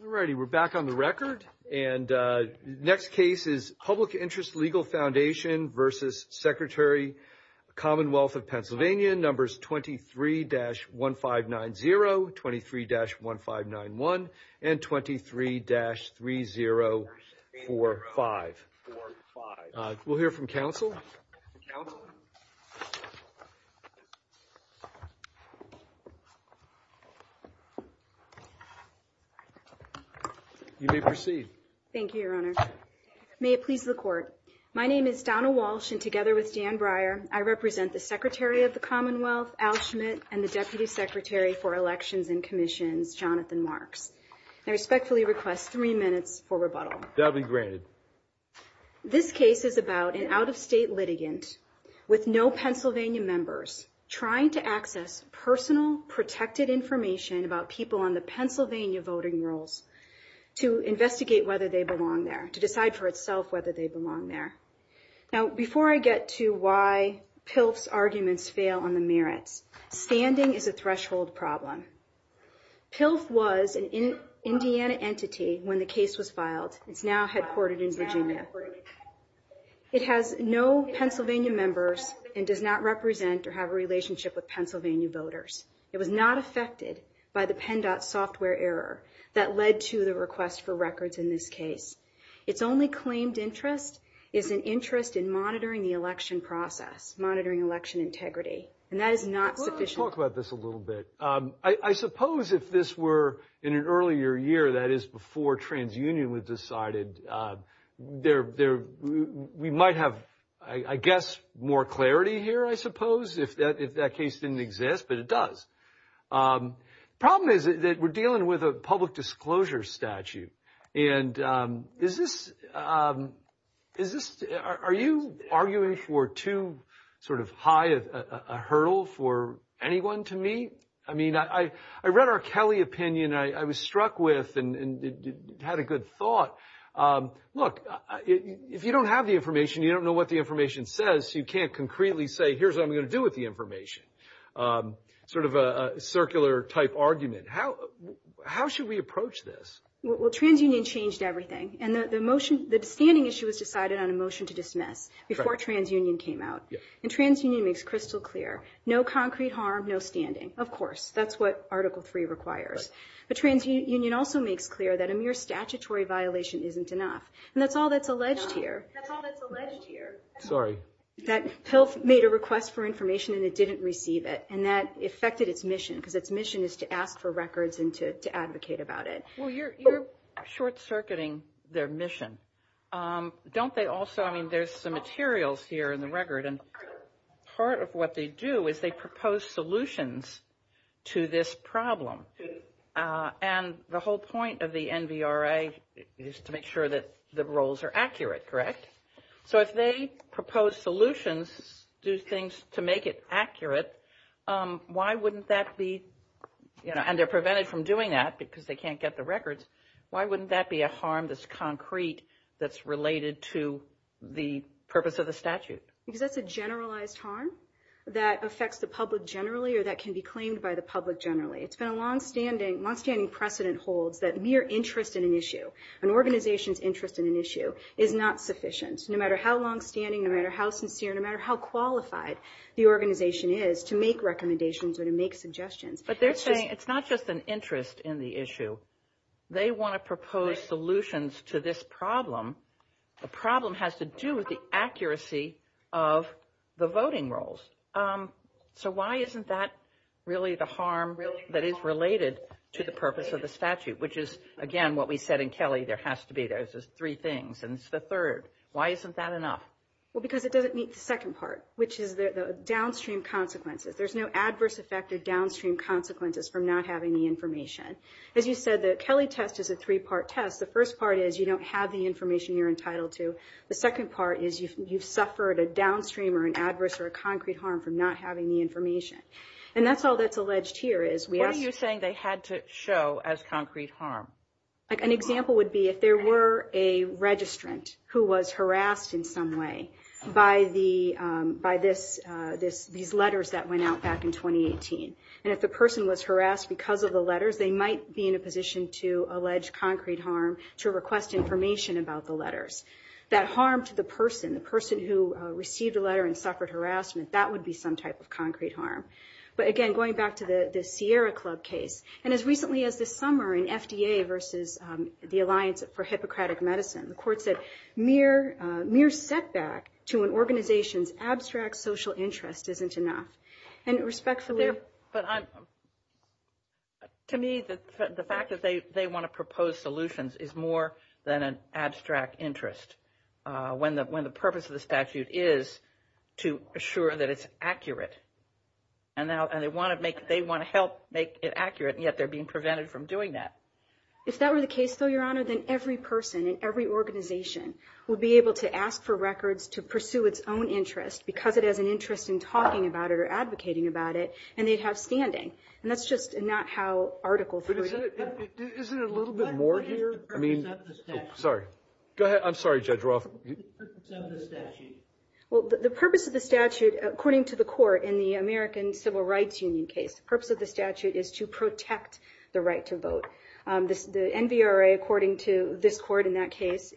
All righty, we're back on the record. And next case is Public Interest Legal Foundation versus Secretary Commonwealth of Pennsylvania. Numbers 23-1590, 23-1591, and 23-3045. We'll hear from counsel. You may proceed. Thank you, Your Honor. May it please the court. My name is Donna Walsh, and together with Dan Breyer, I represent the Secretary of the Commonwealth, Al Schmidt, and the Deputy Secretary for Elections and Commissions, Jonathan Marks. I respectfully request three minutes for rebuttal. That'll be granted. This case is about an out-of-state litigant with no Pennsylvania members trying to access personal protected information about people on the Pennsylvania voting rolls to investigate whether they belong there, to decide for itself whether they belong there. Now, before I get to why PILF's arguments fail on the merits, standing is a threshold problem. PILF was an Indiana entity when the case was filed. It's now headquartered in Virginia. It has no Pennsylvania members and does not represent or have a relationship with Pennsylvania voters. It was not affected by the PennDOT software error that led to the request for records in this case. Its only claimed interest is an interest in monitoring the election process, monitoring election integrity. And that is not sufficient. Well, let's talk about this a little bit. I suppose if this were in an earlier year, that is before TransUnion was decided, we might have, I guess, more clarity here, I suppose, if that case didn't exist, but it does. Problem is that we're dealing with a public disclosure statute. And is this, are you arguing for too sort of high a hurdle for anyone to meet? I mean, I read our Kelly opinion. I was struck with and had a good thought. Look, if you don't have the information, you don't know what the information says, you can't concretely say, here's what I'm gonna do with the information. Sort of a circular type argument. How should we approach this? Well, TransUnion changed everything. And the motion, the standing issue was decided on a motion to dismiss before TransUnion came out. And TransUnion makes crystal clear, no concrete harm, no standing. Of course, that's what Article III requires. But TransUnion also makes clear that a mere statutory violation isn't enough. And that's all that's alleged here. That's all that's alleged here. Sorry. That PILF made a request for information and it didn't receive it. And that affected its mission. Because its mission is to ask for records and to advocate about it. Well, you're short-circuiting their mission. Don't they also, I mean, there's some materials here in the record. And part of what they do is they propose solutions to this problem. And the whole point of the NVRA is to make sure that the roles are accurate, correct? So if they propose solutions, do things to make it accurate, why wouldn't that be, and they're prevented from doing that because they can't get the records. Why wouldn't that be a harm that's concrete, that's related to the purpose of the statute? Because that's a generalized harm that affects the public generally or that can be claimed by the public generally. It's been a longstanding precedent holds that mere interest in an issue, an organization's interest in an issue, is not sufficient. No matter how longstanding, no matter how sincere, no matter how qualified the organization is to make recommendations or to make suggestions. But they're saying it's not just an interest in the issue. They want to propose solutions to this problem. The problem has to do with the accuracy of the voting roles. So why isn't that really the harm that is related to the purpose of the statute? Which is, again, what we said in Kelly, there has to be those three things. And it's the third. Why isn't that enough? Well, because it doesn't meet the second part, which is the downstream consequences. There's no adverse effect or downstream consequences from not having the information. As you said, the Kelly test is a three-part test. The first part is you don't have the information you're entitled to. The second part is you've suffered a downstream or an adverse or a concrete harm from not having the information. And that's all that's alleged here is we ask- An example would be if there were a registrant who was harassed in some way by these letters that went out back in 2018. And if the person was harassed because of the letters, they might be in a position to allege concrete harm to request information about the letters. That harm to the person, the person who received a letter and suffered harassment, that would be some type of concrete harm. But again, going back to the Sierra Club case, and as recently as this summer in FDA versus the Alliance for Hippocratic Medicine, the court said mere setback to an organization's abstract social interest isn't enough. And respectfully- But to me, the fact that they want to propose solutions is more than an abstract interest. When the purpose of the statute is to assure that it's accurate, and they want to help make it accurate, and yet they're being prevented from doing that. If that were the case, though, Your Honor, then every person in every organization would be able to ask for records to pursue its own interest because it has an interest in talking about it or advocating about it, and they'd have standing. And that's just not how articles- But isn't it a little bit more here? I mean, sorry. Go ahead. I'm sorry, Judge Roth. The purpose of the statute. Well, the purpose of the statute, according to the court in the American Civil Rights Union case, the purpose of the statute is to protect the right to vote. The NVRA, according to this court in that case,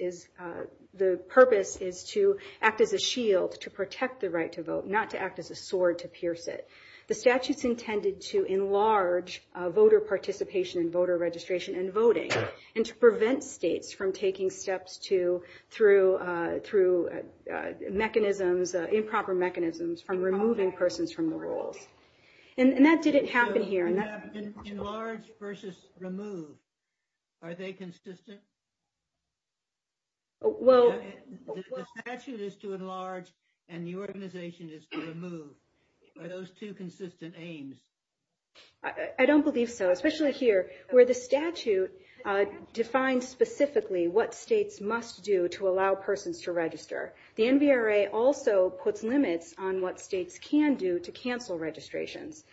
the purpose is to act as a shield to protect the right to vote, not to act as a sword to pierce it. The statute's intended to enlarge voter participation and voter registration and voting, and to prevent states from taking steps through mechanisms, improper mechanisms, from removing persons from the rolls. And that didn't happen here. So enlarge versus remove, are they consistent? Well- The statute is to enlarge, and the organization is to remove. Are those two consistent aims? I don't believe so, especially here, where the statute defines specifically what states must do to allow persons to register. The NVRA also puts limits on what states can do to cancel registrations.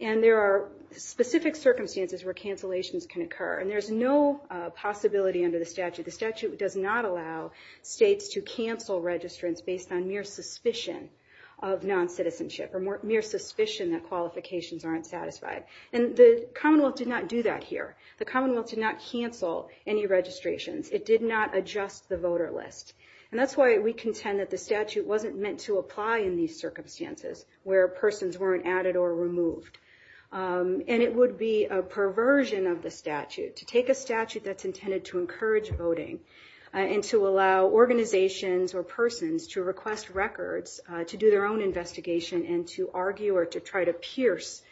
And there are specific circumstances where cancellations can occur, and there's no possibility under the statute. The statute does not allow states to cancel registrants based on mere suspicion of non-citizenship, or mere suspicion that qualifications aren't satisfied. And the Commonwealth did not do that here. The Commonwealth did not cancel any registrations. It did not adjust the voter list. And that's why we contend that the statute wasn't meant to apply in these circumstances, where persons weren't added or removed. And it would be a perversion of the statute to take a statute that's intended to encourage voting, and to allow organizations or persons to request records, to do their own investigation, and to argue or to try to pierce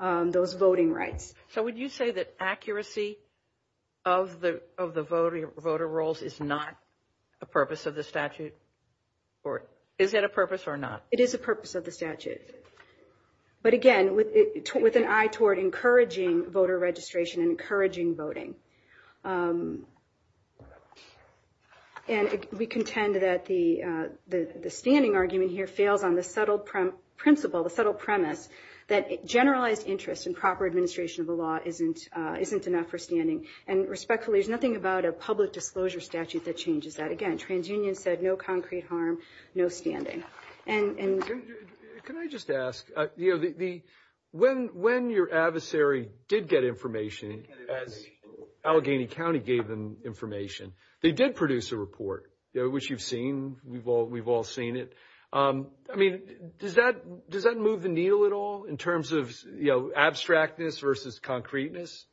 those voting rights. So would you say that accuracy of the voter rolls is not a purpose of the statute? Or is it a purpose or not? It is a purpose of the statute. But again, with an eye toward encouraging voter registration and encouraging voting. And we contend that the standing argument here fails on the subtle principle, the subtle premise, that generalized interest in proper administration of a law isn't enough for standing. And respectfully, there's nothing about a public disclosure statute that changes that. Again, TransUnion said no concrete harm, no standing. Can I just ask, when your adversary did get information, as Allegheny County gave them information, they did produce a report, which you've seen, we've all seen it. I mean, does that move the needle at all in terms of abstractness versus concreteness?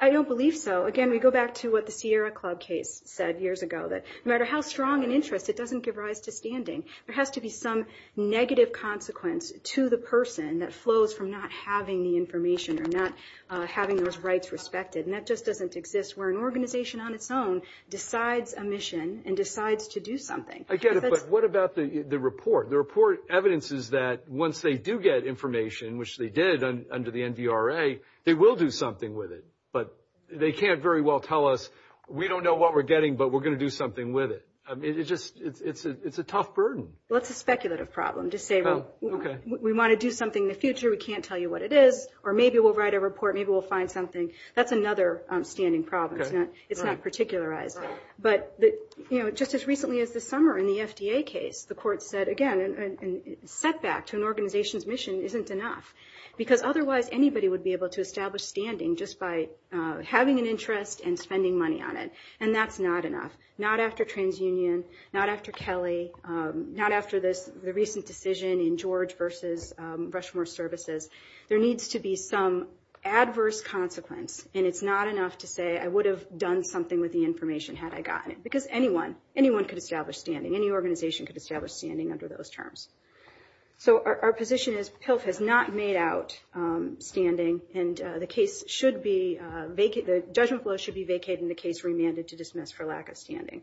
I don't believe so. Again, we go back to what the Sierra Club case said years ago, that no matter how strong an interest, it doesn't give rise to standing. There has to be some negative consequence to the person that flows from not having the information or not having those rights respected. And that just doesn't exist where an organization on its own decides a mission and decides to do something. I get it, but what about the report? The report evidences that once they do get information, which they did under the NVRA, they will do something with it. But they can't very well tell us, we don't know what we're getting, but we're gonna do something with it. I mean, it's just, it's a tough burden. Well, it's a speculative problem. Just say, well, we wanna do something in the future, we can't tell you what it is, or maybe we'll write a report, maybe we'll find something. That's another standing problem. It's not particularized. But just as recently as this summer in the FDA case, the court said, again, a setback to an organization's mission isn't enough. Because otherwise, anybody would be able to establish standing just by having an interest and spending money on it, and that's not enough. Not after TransUnion, not after Kelly, not after the recent decision in George versus Rushmore Services. There needs to be some adverse consequence, and it's not enough to say, I would have done something with the information had I gotten it. Because anyone, anyone could establish standing. Any organization could establish standing under those terms. So our position is PILF has not made out standing, and the case should be, the judgment flow should be vacated and the case remanded to dismiss for lack of standing.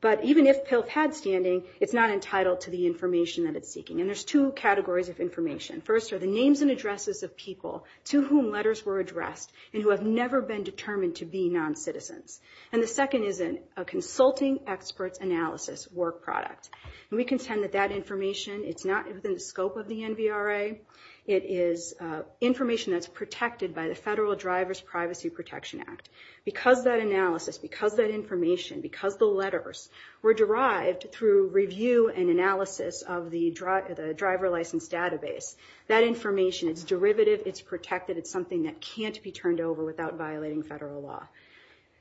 But even if PILF had standing, it's not entitled to the information that it's seeking. And there's two categories of information. First are the names and addresses of people to whom letters were addressed, and who have never been determined to be non-citizens. And the second is a consulting experts analysis work product. And we contend that that information, it's not within the scope of the NVRA. It is information that's protected by the Federal Drivers Privacy Protection Act. Because that analysis, because that information, because the letters were derived through review and analysis of the driver license database, that information, it's derivative, it's protected, it's something that can't be turned over without violating federal law.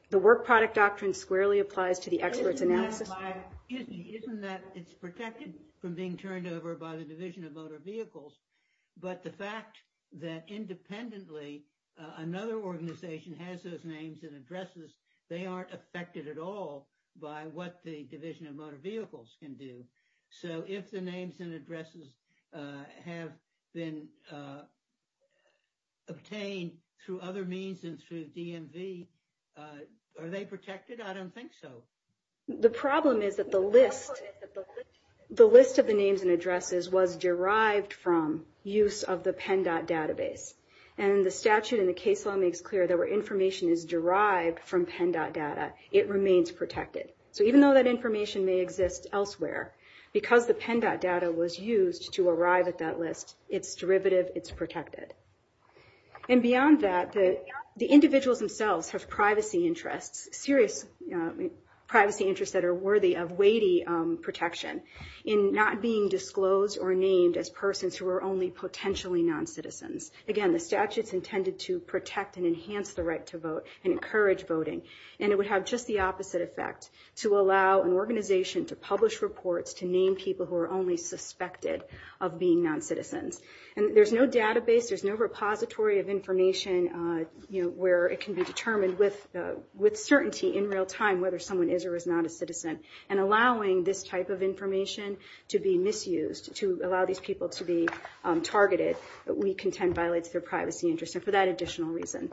The work product doctrine squarely applies to the experts analysis. Isn't that it's protected from being turned over by the Division of Motor Vehicles, but the fact that independently, another organization has those names and addresses, they aren't affected at all by what the Division of Motor Vehicles can do. So if the names and addresses have been obtained through other means and through DMV, are they protected? I don't think so. The problem is that the list of the names and addresses was derived from use of the PennDOT database. And the statute in the case law makes clear that where information is derived from PennDOT data, it remains protected. So even though that information may exist elsewhere, because the PennDOT data was used to arrive at that list, it's derivative, it's protected. And beyond that, the individuals themselves have privacy interests, serious privacy interests that are worthy of weighty protection in not being disclosed or named as persons who are only potentially non-citizens. Again, the statute's intended to protect and enhance the right to vote and encourage voting. And it would have just the opposite effect to allow an organization to publish reports, to name people who are only suspected of being non-citizens. And there's no database, there's no repository of information where it can be determined with certainty in real time whether someone is or is not a citizen. And allowing this type of information to be misused, to allow these people to be targeted, we contend violates their privacy interests. And for that additional reason,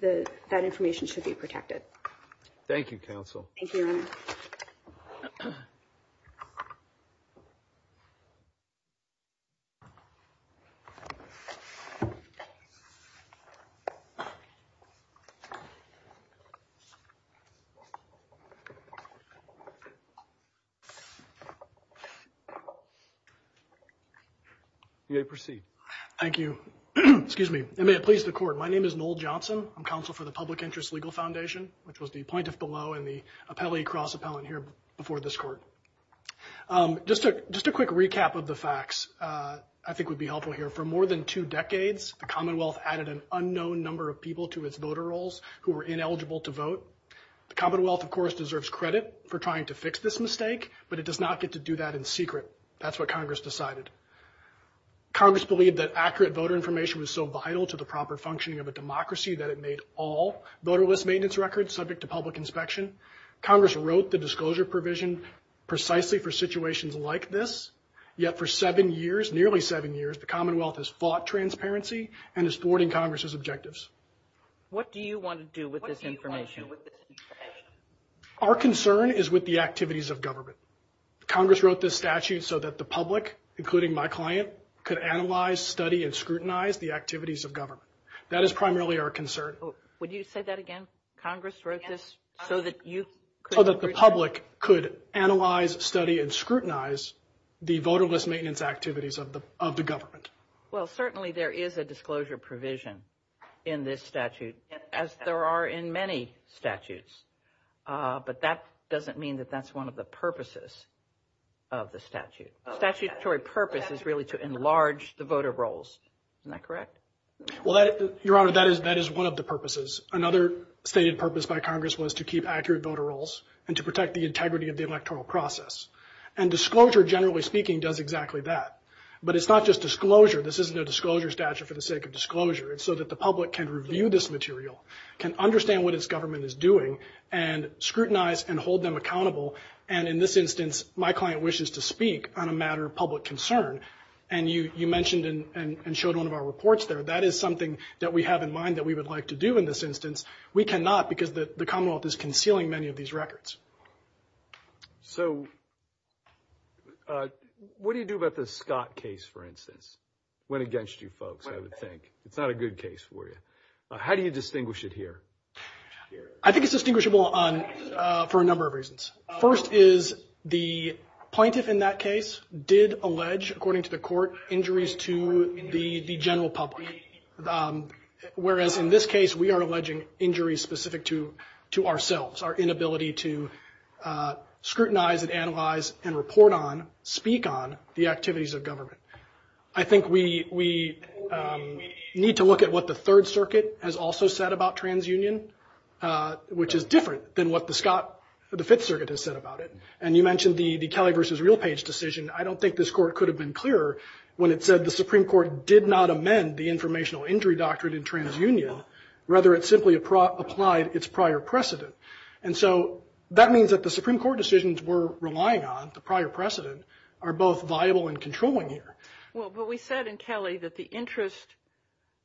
that information should be protected. Thank you, Counsel. Thank you, Your Honor. Thank you. You may proceed. Thank you. Excuse me, and may it please the Court. My name is Noel Johnson. I'm Counsel for the Public Interest Legal Foundation, which was the plaintiff below and the appellee cross-appellant here before this Court. Just a quick recap of the facts I think would be helpful here. For more than two decades, the Commonwealth added an unknown number of people to its voter rolls who were ineligible to vote. The Commonwealth, of course, deserves credit for trying to fix this mistake, but it does not get to do that in secret. That's what Congress decided. Congress believed that accurate voter information was so vital to the proper functioning of a democracy that it made all voterless maintenance records subject to public inspection. Congress wrote the disclosure provision precisely for situations like this. Yet for seven years, nearly seven years, the Commonwealth has fought transparency and is thwarting Congress's objectives. What do you want to do with this information? Our concern is with the activities of government. Congress wrote this statute so that the public, including my client, could analyze, study, and scrutinize the activities of government. That is primarily our concern. Would you say that again? Congress wrote this so that you could... So that the public could analyze, study, and scrutinize the voterless maintenance activities of the government. Well, certainly there is a disclosure provision in this statute, as there are in many statutes, but that doesn't mean that that's one of the purposes of the statute. Statutory purpose is really to enlarge the voter rolls. Isn't that correct? Well, Your Honor, that is one of the purposes. Another stated purpose by Congress was to keep accurate voter rolls and to protect the integrity of the electoral process. And disclosure, generally speaking, does exactly that. But it's not just disclosure. This isn't a disclosure statute for the sake of disclosure. It's so that the public can review this material, can understand what its government is doing, and scrutinize and hold them accountable. And in this instance, my client wishes to speak on a matter of public concern. And you mentioned and showed one of our reports there. That is something that we have in mind that we would like to do in this instance. We cannot because the Commonwealth is concealing many of these records. So what do you do about the Scott case, for instance? Went against you folks, I would think. It's not a good case for you. How do you distinguish it here? I think it's distinguishable for a number of reasons. First is the plaintiff in that case did allege, according to the court, injuries to the general public. Whereas in this case, we are alleging injuries specific to ourselves, our inability to scrutinize and analyze and report on, speak on, the activities of government. I think we need to look at what the Third Circuit has also said about transunion, which is different than what the Fifth Circuit has said about it. And you mentioned the Kelly versus Realpage decision. I don't think this court could have been clearer when it said the Supreme Court did not amend the informational injury doctrine in transunion. Rather, it simply applied its prior precedent. And so that means that the Supreme Court decisions we're relying on, the prior precedent, are both viable and controlling here. Well, but we said in Kelly that the interest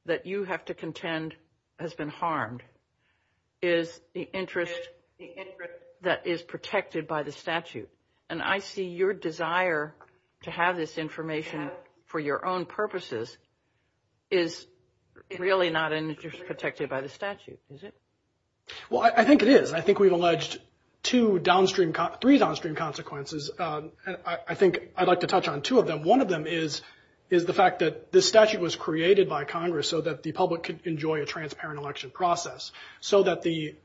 that you have to contend has been harmed is the interest that is protected by the statute. And I see your desire to have this information for your own purposes is really not an interest protected by the statute, is it? Well, I think it is. I think we've alleged three downstream consequences. And I think I'd like to touch on two of them. One of them is the fact that this statute was created by Congress so that the public could enjoy a transparent election process, so that the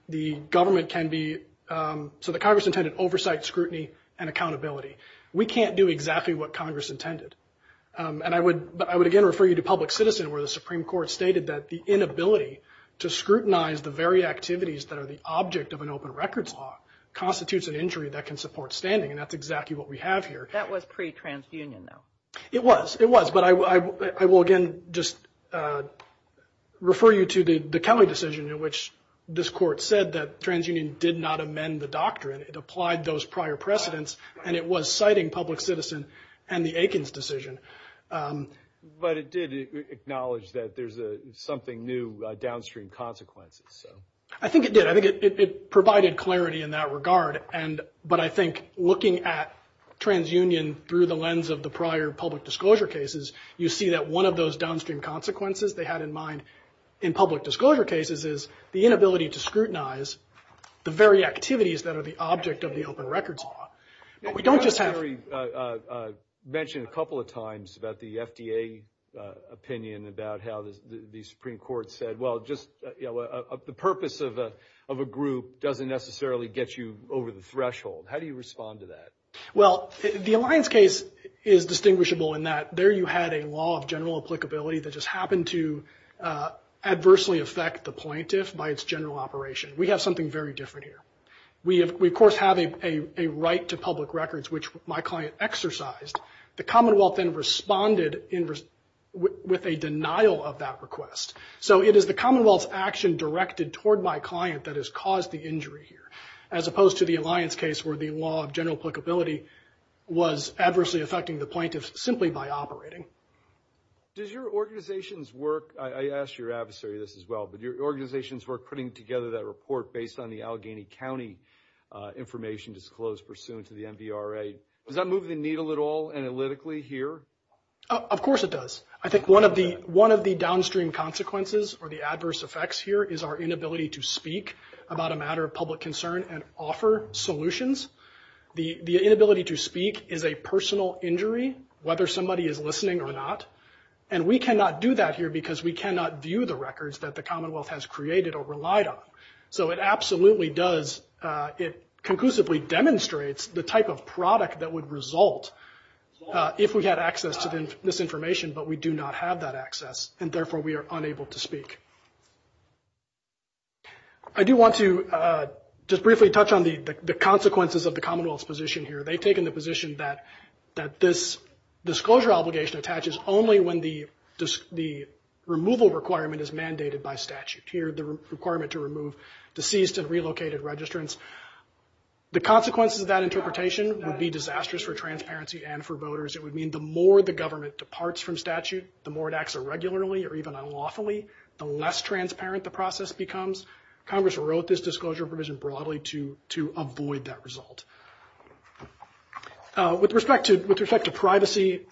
government can be, so that Congress intended oversight, scrutiny, and accountability. We can't do exactly what Congress intended. And I would, but I would again refer you to public citizen where the Supreme Court stated that the inability to scrutinize the very activities that are the object of an open records law constitutes an injury that can support standing. And that's exactly what we have here. That was pre-transunion though. It was, it was. But I will again just refer you to the Kelly decision in which this court said that transunion did not amend the doctrine. It applied those prior precedents and it was citing public citizen and the Aikens decision. But it did acknowledge that there's something new, downstream consequences, so. I think it did. I think it provided clarity in that regard. But I think looking at transunion through the lens of the prior public disclosure cases, you see that one of those downstream consequences they had in mind in public disclosure cases is the inability to scrutinize the very activities that are the object of the open records law. But we don't just have. You mentioned a couple of times about the FDA opinion about how the Supreme Court said, well, just the purpose of a group doesn't necessarily get you over the threshold. How do you respond to that? Well, the Alliance case is distinguishable in that there you had a law of general applicability that just happened to adversely affect the plaintiff by its general operation. We have something very different here. We, of course, have a right to public records, which my client exercised. The Commonwealth then responded with a denial of that request. So it is the Commonwealth's action directed toward my client that has caused the injury here, as opposed to the Alliance case where the law of general applicability was adversely affecting the plaintiff simply by operating. Does your organization's work, I asked your adversary this as well, but your organization's work putting together that report based on the Allegheny County information disclosed pursuant to the MVRA, does that move the needle at all analytically here? Of course it does. I think one of the downstream consequences or the adverse effects here is our inability to speak about a matter of public concern and offer solutions. The inability to speak is a personal injury, whether somebody is listening or not. And we cannot do that here because we cannot view the records that the Commonwealth has created or relied on. So it absolutely does, it conclusively demonstrates the type of product that would result if we had access to this information, but we do not have that access, and therefore we are unable to speak. I do want to just briefly touch on the consequences of the Commonwealth's position here. They've taken the position that this disclosure obligation attaches only when the removal requirement is mandated by statute. Here, the requirement to remove deceased and relocated registrants. The consequences of that interpretation would be disastrous for transparency and for voters. It would mean the more the government departs from statute, the more it acts irregularly or even unlawfully, the less transparent the process becomes. Congress wrote this disclosure provision broadly to avoid that result. With respect to privacy,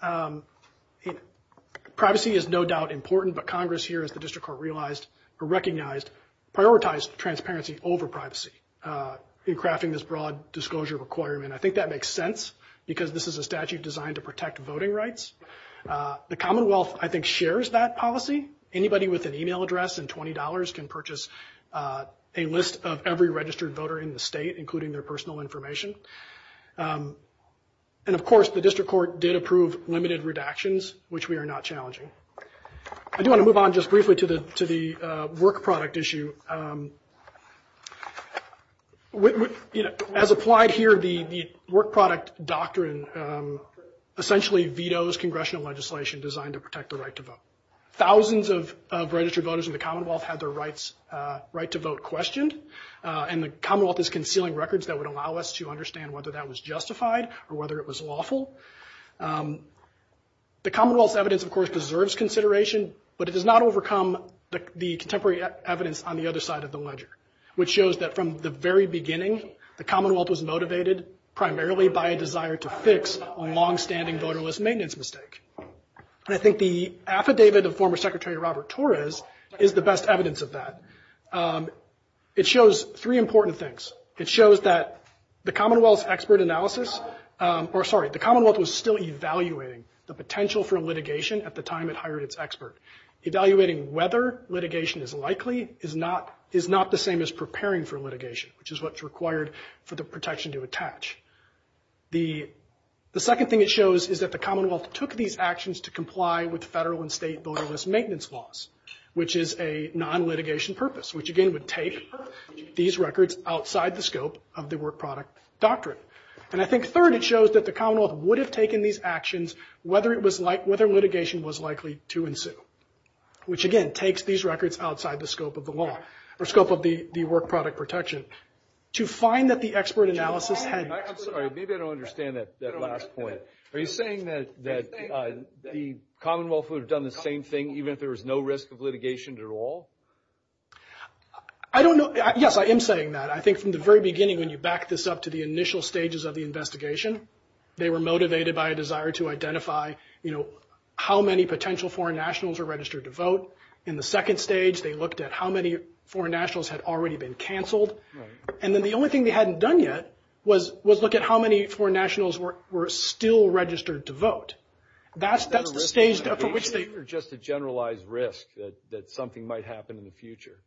privacy is no doubt important, but Congress here, as the District Court realized, or recognized, prioritized transparency over privacy in crafting this broad disclosure requirement. I think that makes sense because this is a statute designed to protect voting rights. The Commonwealth, I think, shares that policy. Anybody with an email address and $20 can purchase a list of every registered voter in the state, including their personal information. And of course, the District Court did approve limited redactions, which we are not challenging. I do want to move on just briefly to the work product issue. As applied here, the work product doctrine essentially vetoes congressional legislation designed to protect the right to vote. Thousands of registered voters in the Commonwealth had their right to vote questioned, and the Commonwealth is concealing records that would allow us to understand whether that was justified or whether it was lawful. The Commonwealth's evidence, of course, deserves consideration, but it does not overcome the contemporary evidence on the other side of the ledger, which shows that from the very beginning, the Commonwealth was motivated primarily by a desire to fix a longstanding voterless maintenance mistake. And I think the affidavit of former Secretary Robert Torres is the best evidence of that. It shows three important things. It shows that the Commonwealth's expert analysis, or sorry, the Commonwealth's expert analysis was still evaluating the potential for litigation at the time it hired its expert. Evaluating whether litigation is likely is not the same as preparing for litigation, which is what's required for the protection to attach. The second thing it shows is that the Commonwealth took these actions to comply with federal and state voterless maintenance laws, which is a non-litigation purpose, which again would take these records outside the scope of the work product doctrine. And I think third, it shows that the Commonwealth would have taken these actions whether litigation was likely to ensue. Which again, takes these records outside the scope of the law, or scope of the work product protection. To find that the expert analysis had- I'm sorry, maybe I don't understand that last point. Are you saying that the Commonwealth would have done the same thing even if there was no risk of litigation at all? I don't know, yes, I am saying that. I think from the very beginning, when you back this up to the initial stages of the investigation, they were motivated by a desire to identify how many potential foreign nationals were registered to vote. In the second stage, they looked at how many foreign nationals had already been canceled. And then the only thing they hadn't done yet was look at how many foreign nationals were still registered to vote. That's the stage for which they- Or just a generalized risk that something might happen in the future.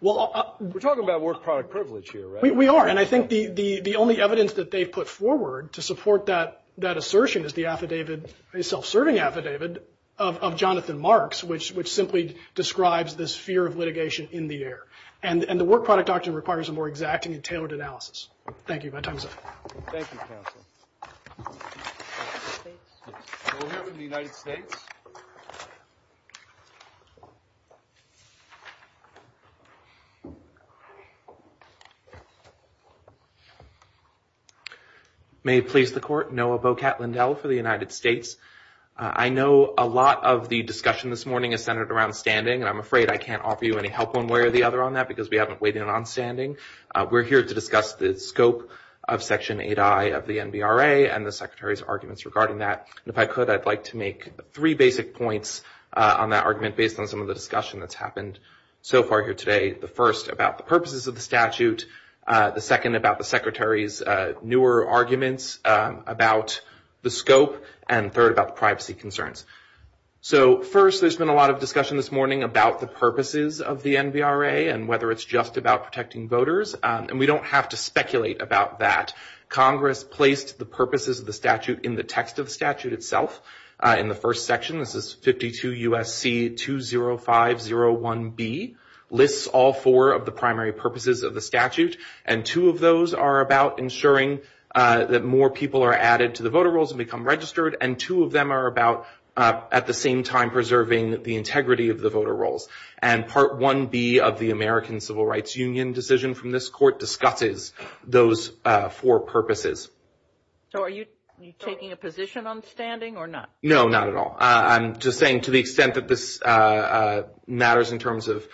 We're talking about work product privilege here, right? We are, and I think the only evidence that they've put forward to support that assertion is the affidavit, a self-serving affidavit, of Jonathan Marks, which simply describes this fear of litigation in the air. And the work product doctrine requires a more exacting and tailored analysis. Thank you, my time is up. Thank you, counsel. We'll hear from the United States. May it please the court, Noah Bocat-Lindell for the United States. I know a lot of the discussion this morning is centered around standing, and I'm afraid I can't offer you any help one way or the other on that because we haven't weighed in on standing. We're here to discuss the scope of Section 8I of the NBRA and the Secretary's arguments regarding that. And if I could, I'd like to make three basic points on that argument based on some of the discussion that's happened so far here today. The first, about the purposes of the statute. The second, about the Secretary's newer arguments about the scope. And third, about the privacy concerns. So first, there's been a lot of discussion this morning about the purposes of the NBRA and whether it's just about protecting voters. And we don't have to speculate about that. Congress placed the purposes of the statute in the text of the statute itself. In the first section, this is 52 U.S.C. 20501B, lists all four of the primary purposes of the statute. And two of those are about ensuring that more people are added to the voter rolls and become registered. And two of them are about, at the same time, preserving the integrity of the voter rolls. And Part 1B of the American Civil Rights Union decision from this court discusses those four purposes. So are you taking a position on standing or not? No, not at all. I'm just saying to the extent that this matters in terms of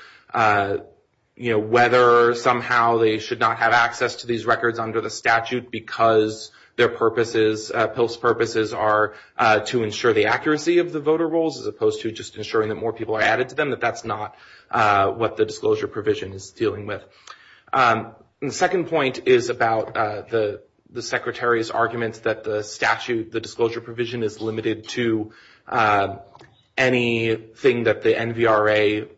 whether somehow they should not have access to these records under the statute because their purposes, PILF's purposes, are to ensure the accuracy of the voter rolls as opposed to just ensuring that more people are added to them, that that's not what the disclosure provision is dealing with. And the second point is about the Secretary's arguments that the statute, the disclosure provision, is limited to anything that the NBRA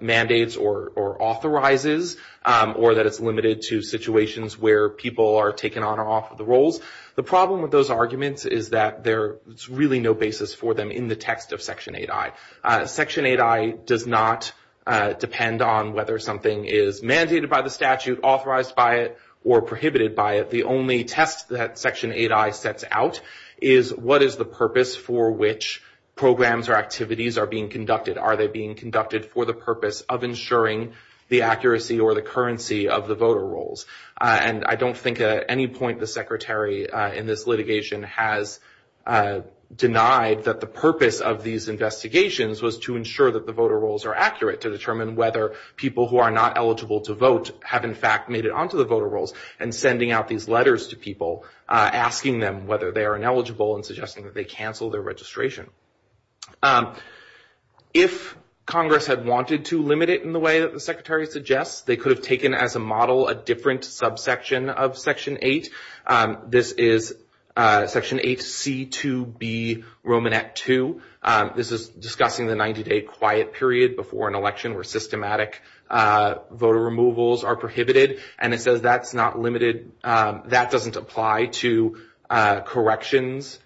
mandates or authorizes, or that it's limited to situations where people are taken on or off of the rolls. The problem with those arguments is that there's really no basis for them in the text of Section 8i. Section 8i does not depend on whether something is mandated by the statute, authorized by it, or prohibited by it. The only test that Section 8i sets out is what is the purpose for which programs or activities are being conducted? Are they being conducted for the purpose of ensuring the accuracy or the currency of the voter rolls? And I don't think at any point the Secretary in this litigation has denied that the purpose of these investigations was to ensure that the voter rolls are accurate to determine whether people who are not eligible to vote have in fact made it onto the voter rolls and sending out these letters to people asking them whether they are ineligible and suggesting that they cancel their registration. If Congress had wanted to limit it in the way that the Secretary suggests, they could have taken as a model a different subsection of Section 8. This is Section 8c2b Romanet 2. This is discussing the 90-day quiet period before an election where systematic voter removals are prohibited. And it says that's not limited, that doesn't apply to corrections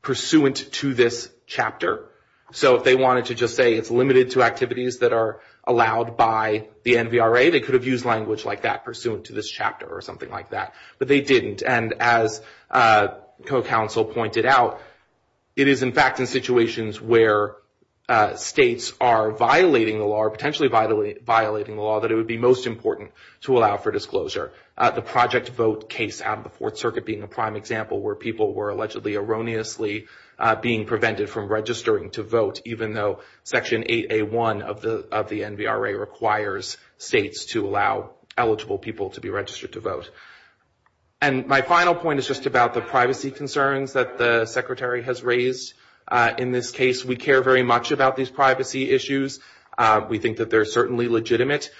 pursuant to this chapter. So if they wanted to just say it's limited to activities that are allowed by the NVRA, they could have used language like that pursuant to this chapter or something like that. But they didn't. And as co-counsel pointed out, it is in fact in situations where states are violating the law or potentially violating the law that it would be most important to allow for disclosure. The Project Vote case out of the Fourth Circuit being a prime example where people were allegedly erroneously being prevented from registering to vote even though Section 8a1 of the NVRA requires states to allow eligible people to be registered to vote. And my final point is just about the privacy concerns that the Secretary has raised. In this case, we care very much about these privacy issues. We think that they're certainly legitimate.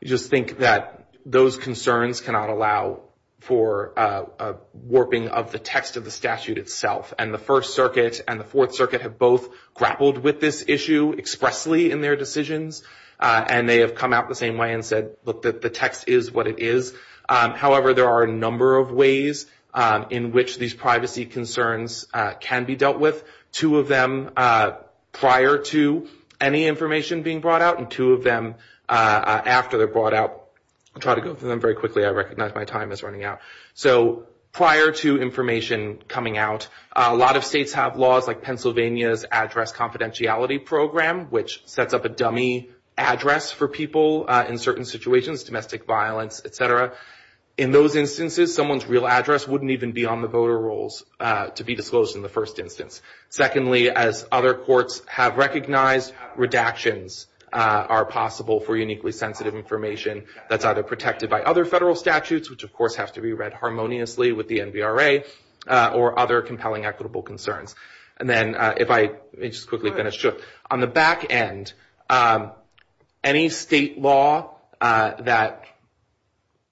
We just think that those concerns cannot allow for a warping of the text of the statute itself. And the First Circuit and the Fourth Circuit have both grappled with this issue expressly in their decisions. And they have come out the same way and said, look, the text is what it is. However, there are a number of ways in which these privacy concerns can be dealt with. Two of them prior to any information being brought out and two of them after they're brought out. I'll try to go through them very quickly. I recognize my time is running out. So prior to information coming out, a lot of states have laws like Pennsylvania's Address Confidentiality Program, which sets up a dummy address for people in certain situations, domestic violence, et cetera. In those instances, someone's real address wouldn't even be on the voter rolls to be disclosed in the first instance. Secondly, as other courts have recognized, redactions are possible for uniquely sensitive information that's either protected by other federal statutes, which of course have to be read harmoniously with the NVRA, or other compelling equitable concerns. And then if I, let me just quickly finish. On the back end, any state law that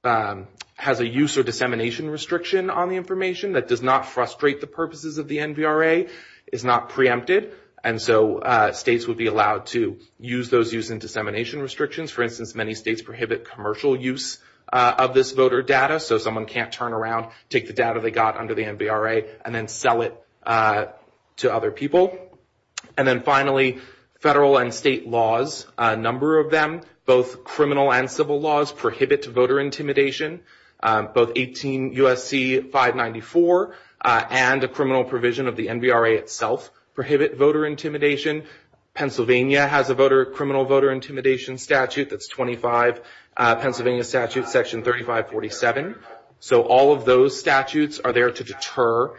has a use or dissemination restriction on the information that does not frustrate the purposes of the NVRA is not preempted. And so states would be allowed to use those using dissemination restrictions. For instance, many states prohibit commercial use of this voter data. So someone can't turn around, take the data they got under the NVRA, and then sell it to other people. And then finally, federal and state laws, a number of them, both criminal and civil laws, prohibit voter intimidation. Both 18 U.S.C. 594 and a criminal provision of the NVRA itself prohibit voter intimidation. Pennsylvania has a voter, criminal voter intimidation statute that's 25. Pennsylvania statute section 3547. So all of those statutes are there to deter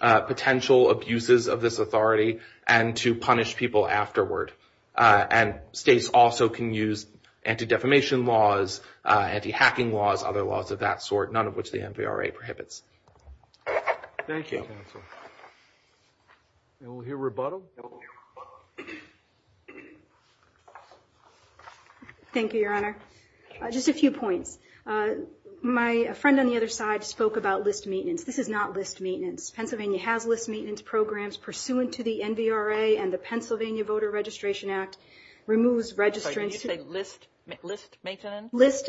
potential abuses of this authority and to punish people afterward. And states also can use anti-defamation laws, anti-hacking laws, other laws of that sort, none of which the NVRA prohibits. Thank you, counsel. And we'll hear rebuttal. Thank you, Your Honor. Just a few points. My friend on the other side spoke about list maintenance. This is not list maintenance. Pennsylvania has list maintenance programs pursuant to the NVRA and the Pennsylvania Voter Registration Act removes registrants. Wait, did you say list maintenance? List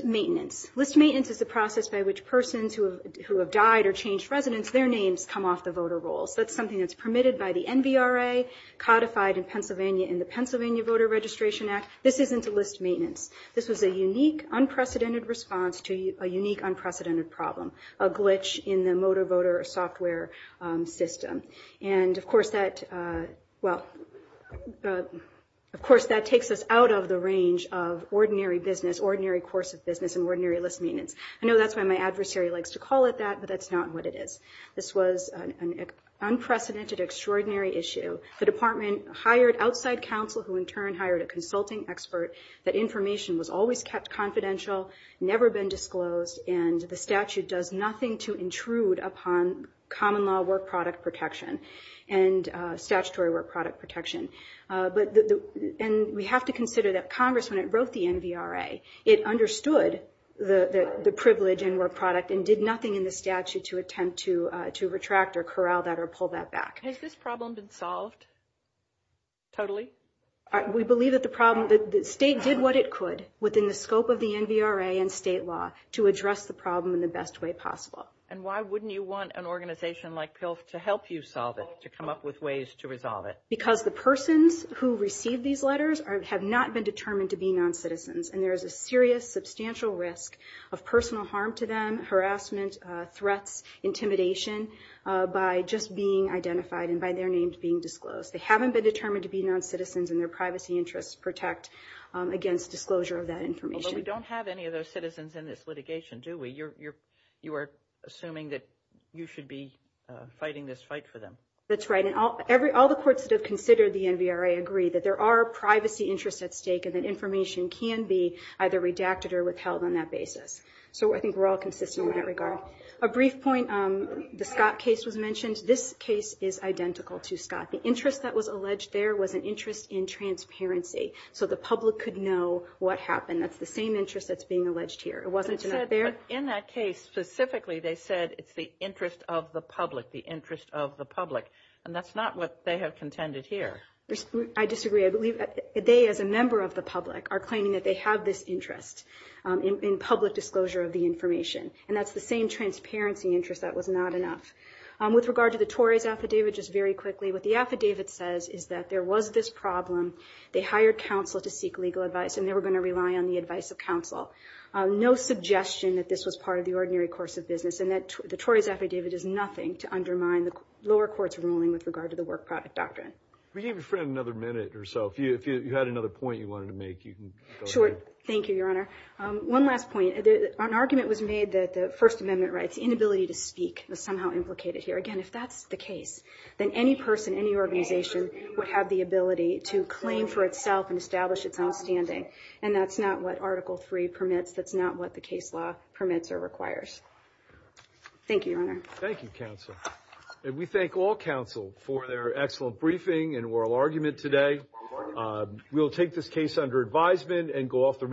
maintenance. List maintenance is the process by which persons who have died or changed residence, their names come off the voter rolls. That's something that's permitted by the NVRA, codified in Pennsylvania in the Pennsylvania Voter Registration Act. This isn't a list maintenance. This was a unique, unprecedented response to a unique, unprecedented problem, a glitch in the motor voter software system. And of course that, well, of course that takes us out of the range of ordinary business, ordinary course of business and ordinary list maintenance. I know that's why my adversary likes to call it that, but that's not what it is. This was an unprecedented, extraordinary issue. The department hired outside counsel who in turn hired a consulting expert that information was always kept confidential, never been disclosed, and the statute does nothing to intrude upon common law work product protection and statutory work product protection. And we have to consider that Congress, when it wrote the NVRA, it understood the privilege and work product and did nothing in the statute to attempt to retract or corral that or pull that back. Has this problem been solved totally? We believe that the problem, that the state did what it could within the scope of the NVRA and state law to address the problem in the best way possible. And why wouldn't you want an organization like PILF to help you solve it, to come up with ways to resolve it? Because the persons who receive these letters have not been determined to be non-citizens. And there is a serious, substantial risk of personal harm to them, harassment, threats, intimidation by just being identified and by their names being disclosed. They haven't been determined to be non-citizens and their privacy interests protect against disclosure of that information. Although we don't have any of those citizens in this litigation, do we? You are assuming that you should be fighting this fight for them. That's right. And all the courts that have considered the NVRA agree that there are privacy interests at stake and that information can be either redacted or withheld on that basis. So I think we're all consistent in that regard. A brief point, the Scott case was mentioned. This case is identical to Scott. The interest that was alleged there was an interest in transparency. So the public could know what happened. That's the same interest that's being alleged here. It wasn't there. In that case, specifically they said it's the interest of the public, the interest of the public. And that's not what they have contended here. I disagree. I believe that they, as a member of the public, are claiming that they have this interest in public disclosure of the information. And that's the same transparency interest that was not enough. With regard to the Tories' affidavit, just very quickly, what the affidavit says is that there was this problem. They hired counsel to seek legal advice and they were gonna rely on the advice of counsel. No suggestion that this was part of the ordinary course of business. And the Tories' affidavit is nothing to undermine the lower court's ruling with regard to the work product doctrine. We gave your friend another minute or so. If you had another point you wanted to make, you can go ahead. Sure, thank you, Your Honor. One last point. An argument was made that the First Amendment rights, inability to speak, was somehow implicated here. Again, if that's the case, then any person, any organization would have the ability to claim for itself and establish its own standing. And that's not what Article III permits. That's not what the case law permits or requires. Thank you, Your Honor. Thank you, counsel. And we thank all counsel for their excellent briefing and oral argument today. We'll take this case under advisement and go off the.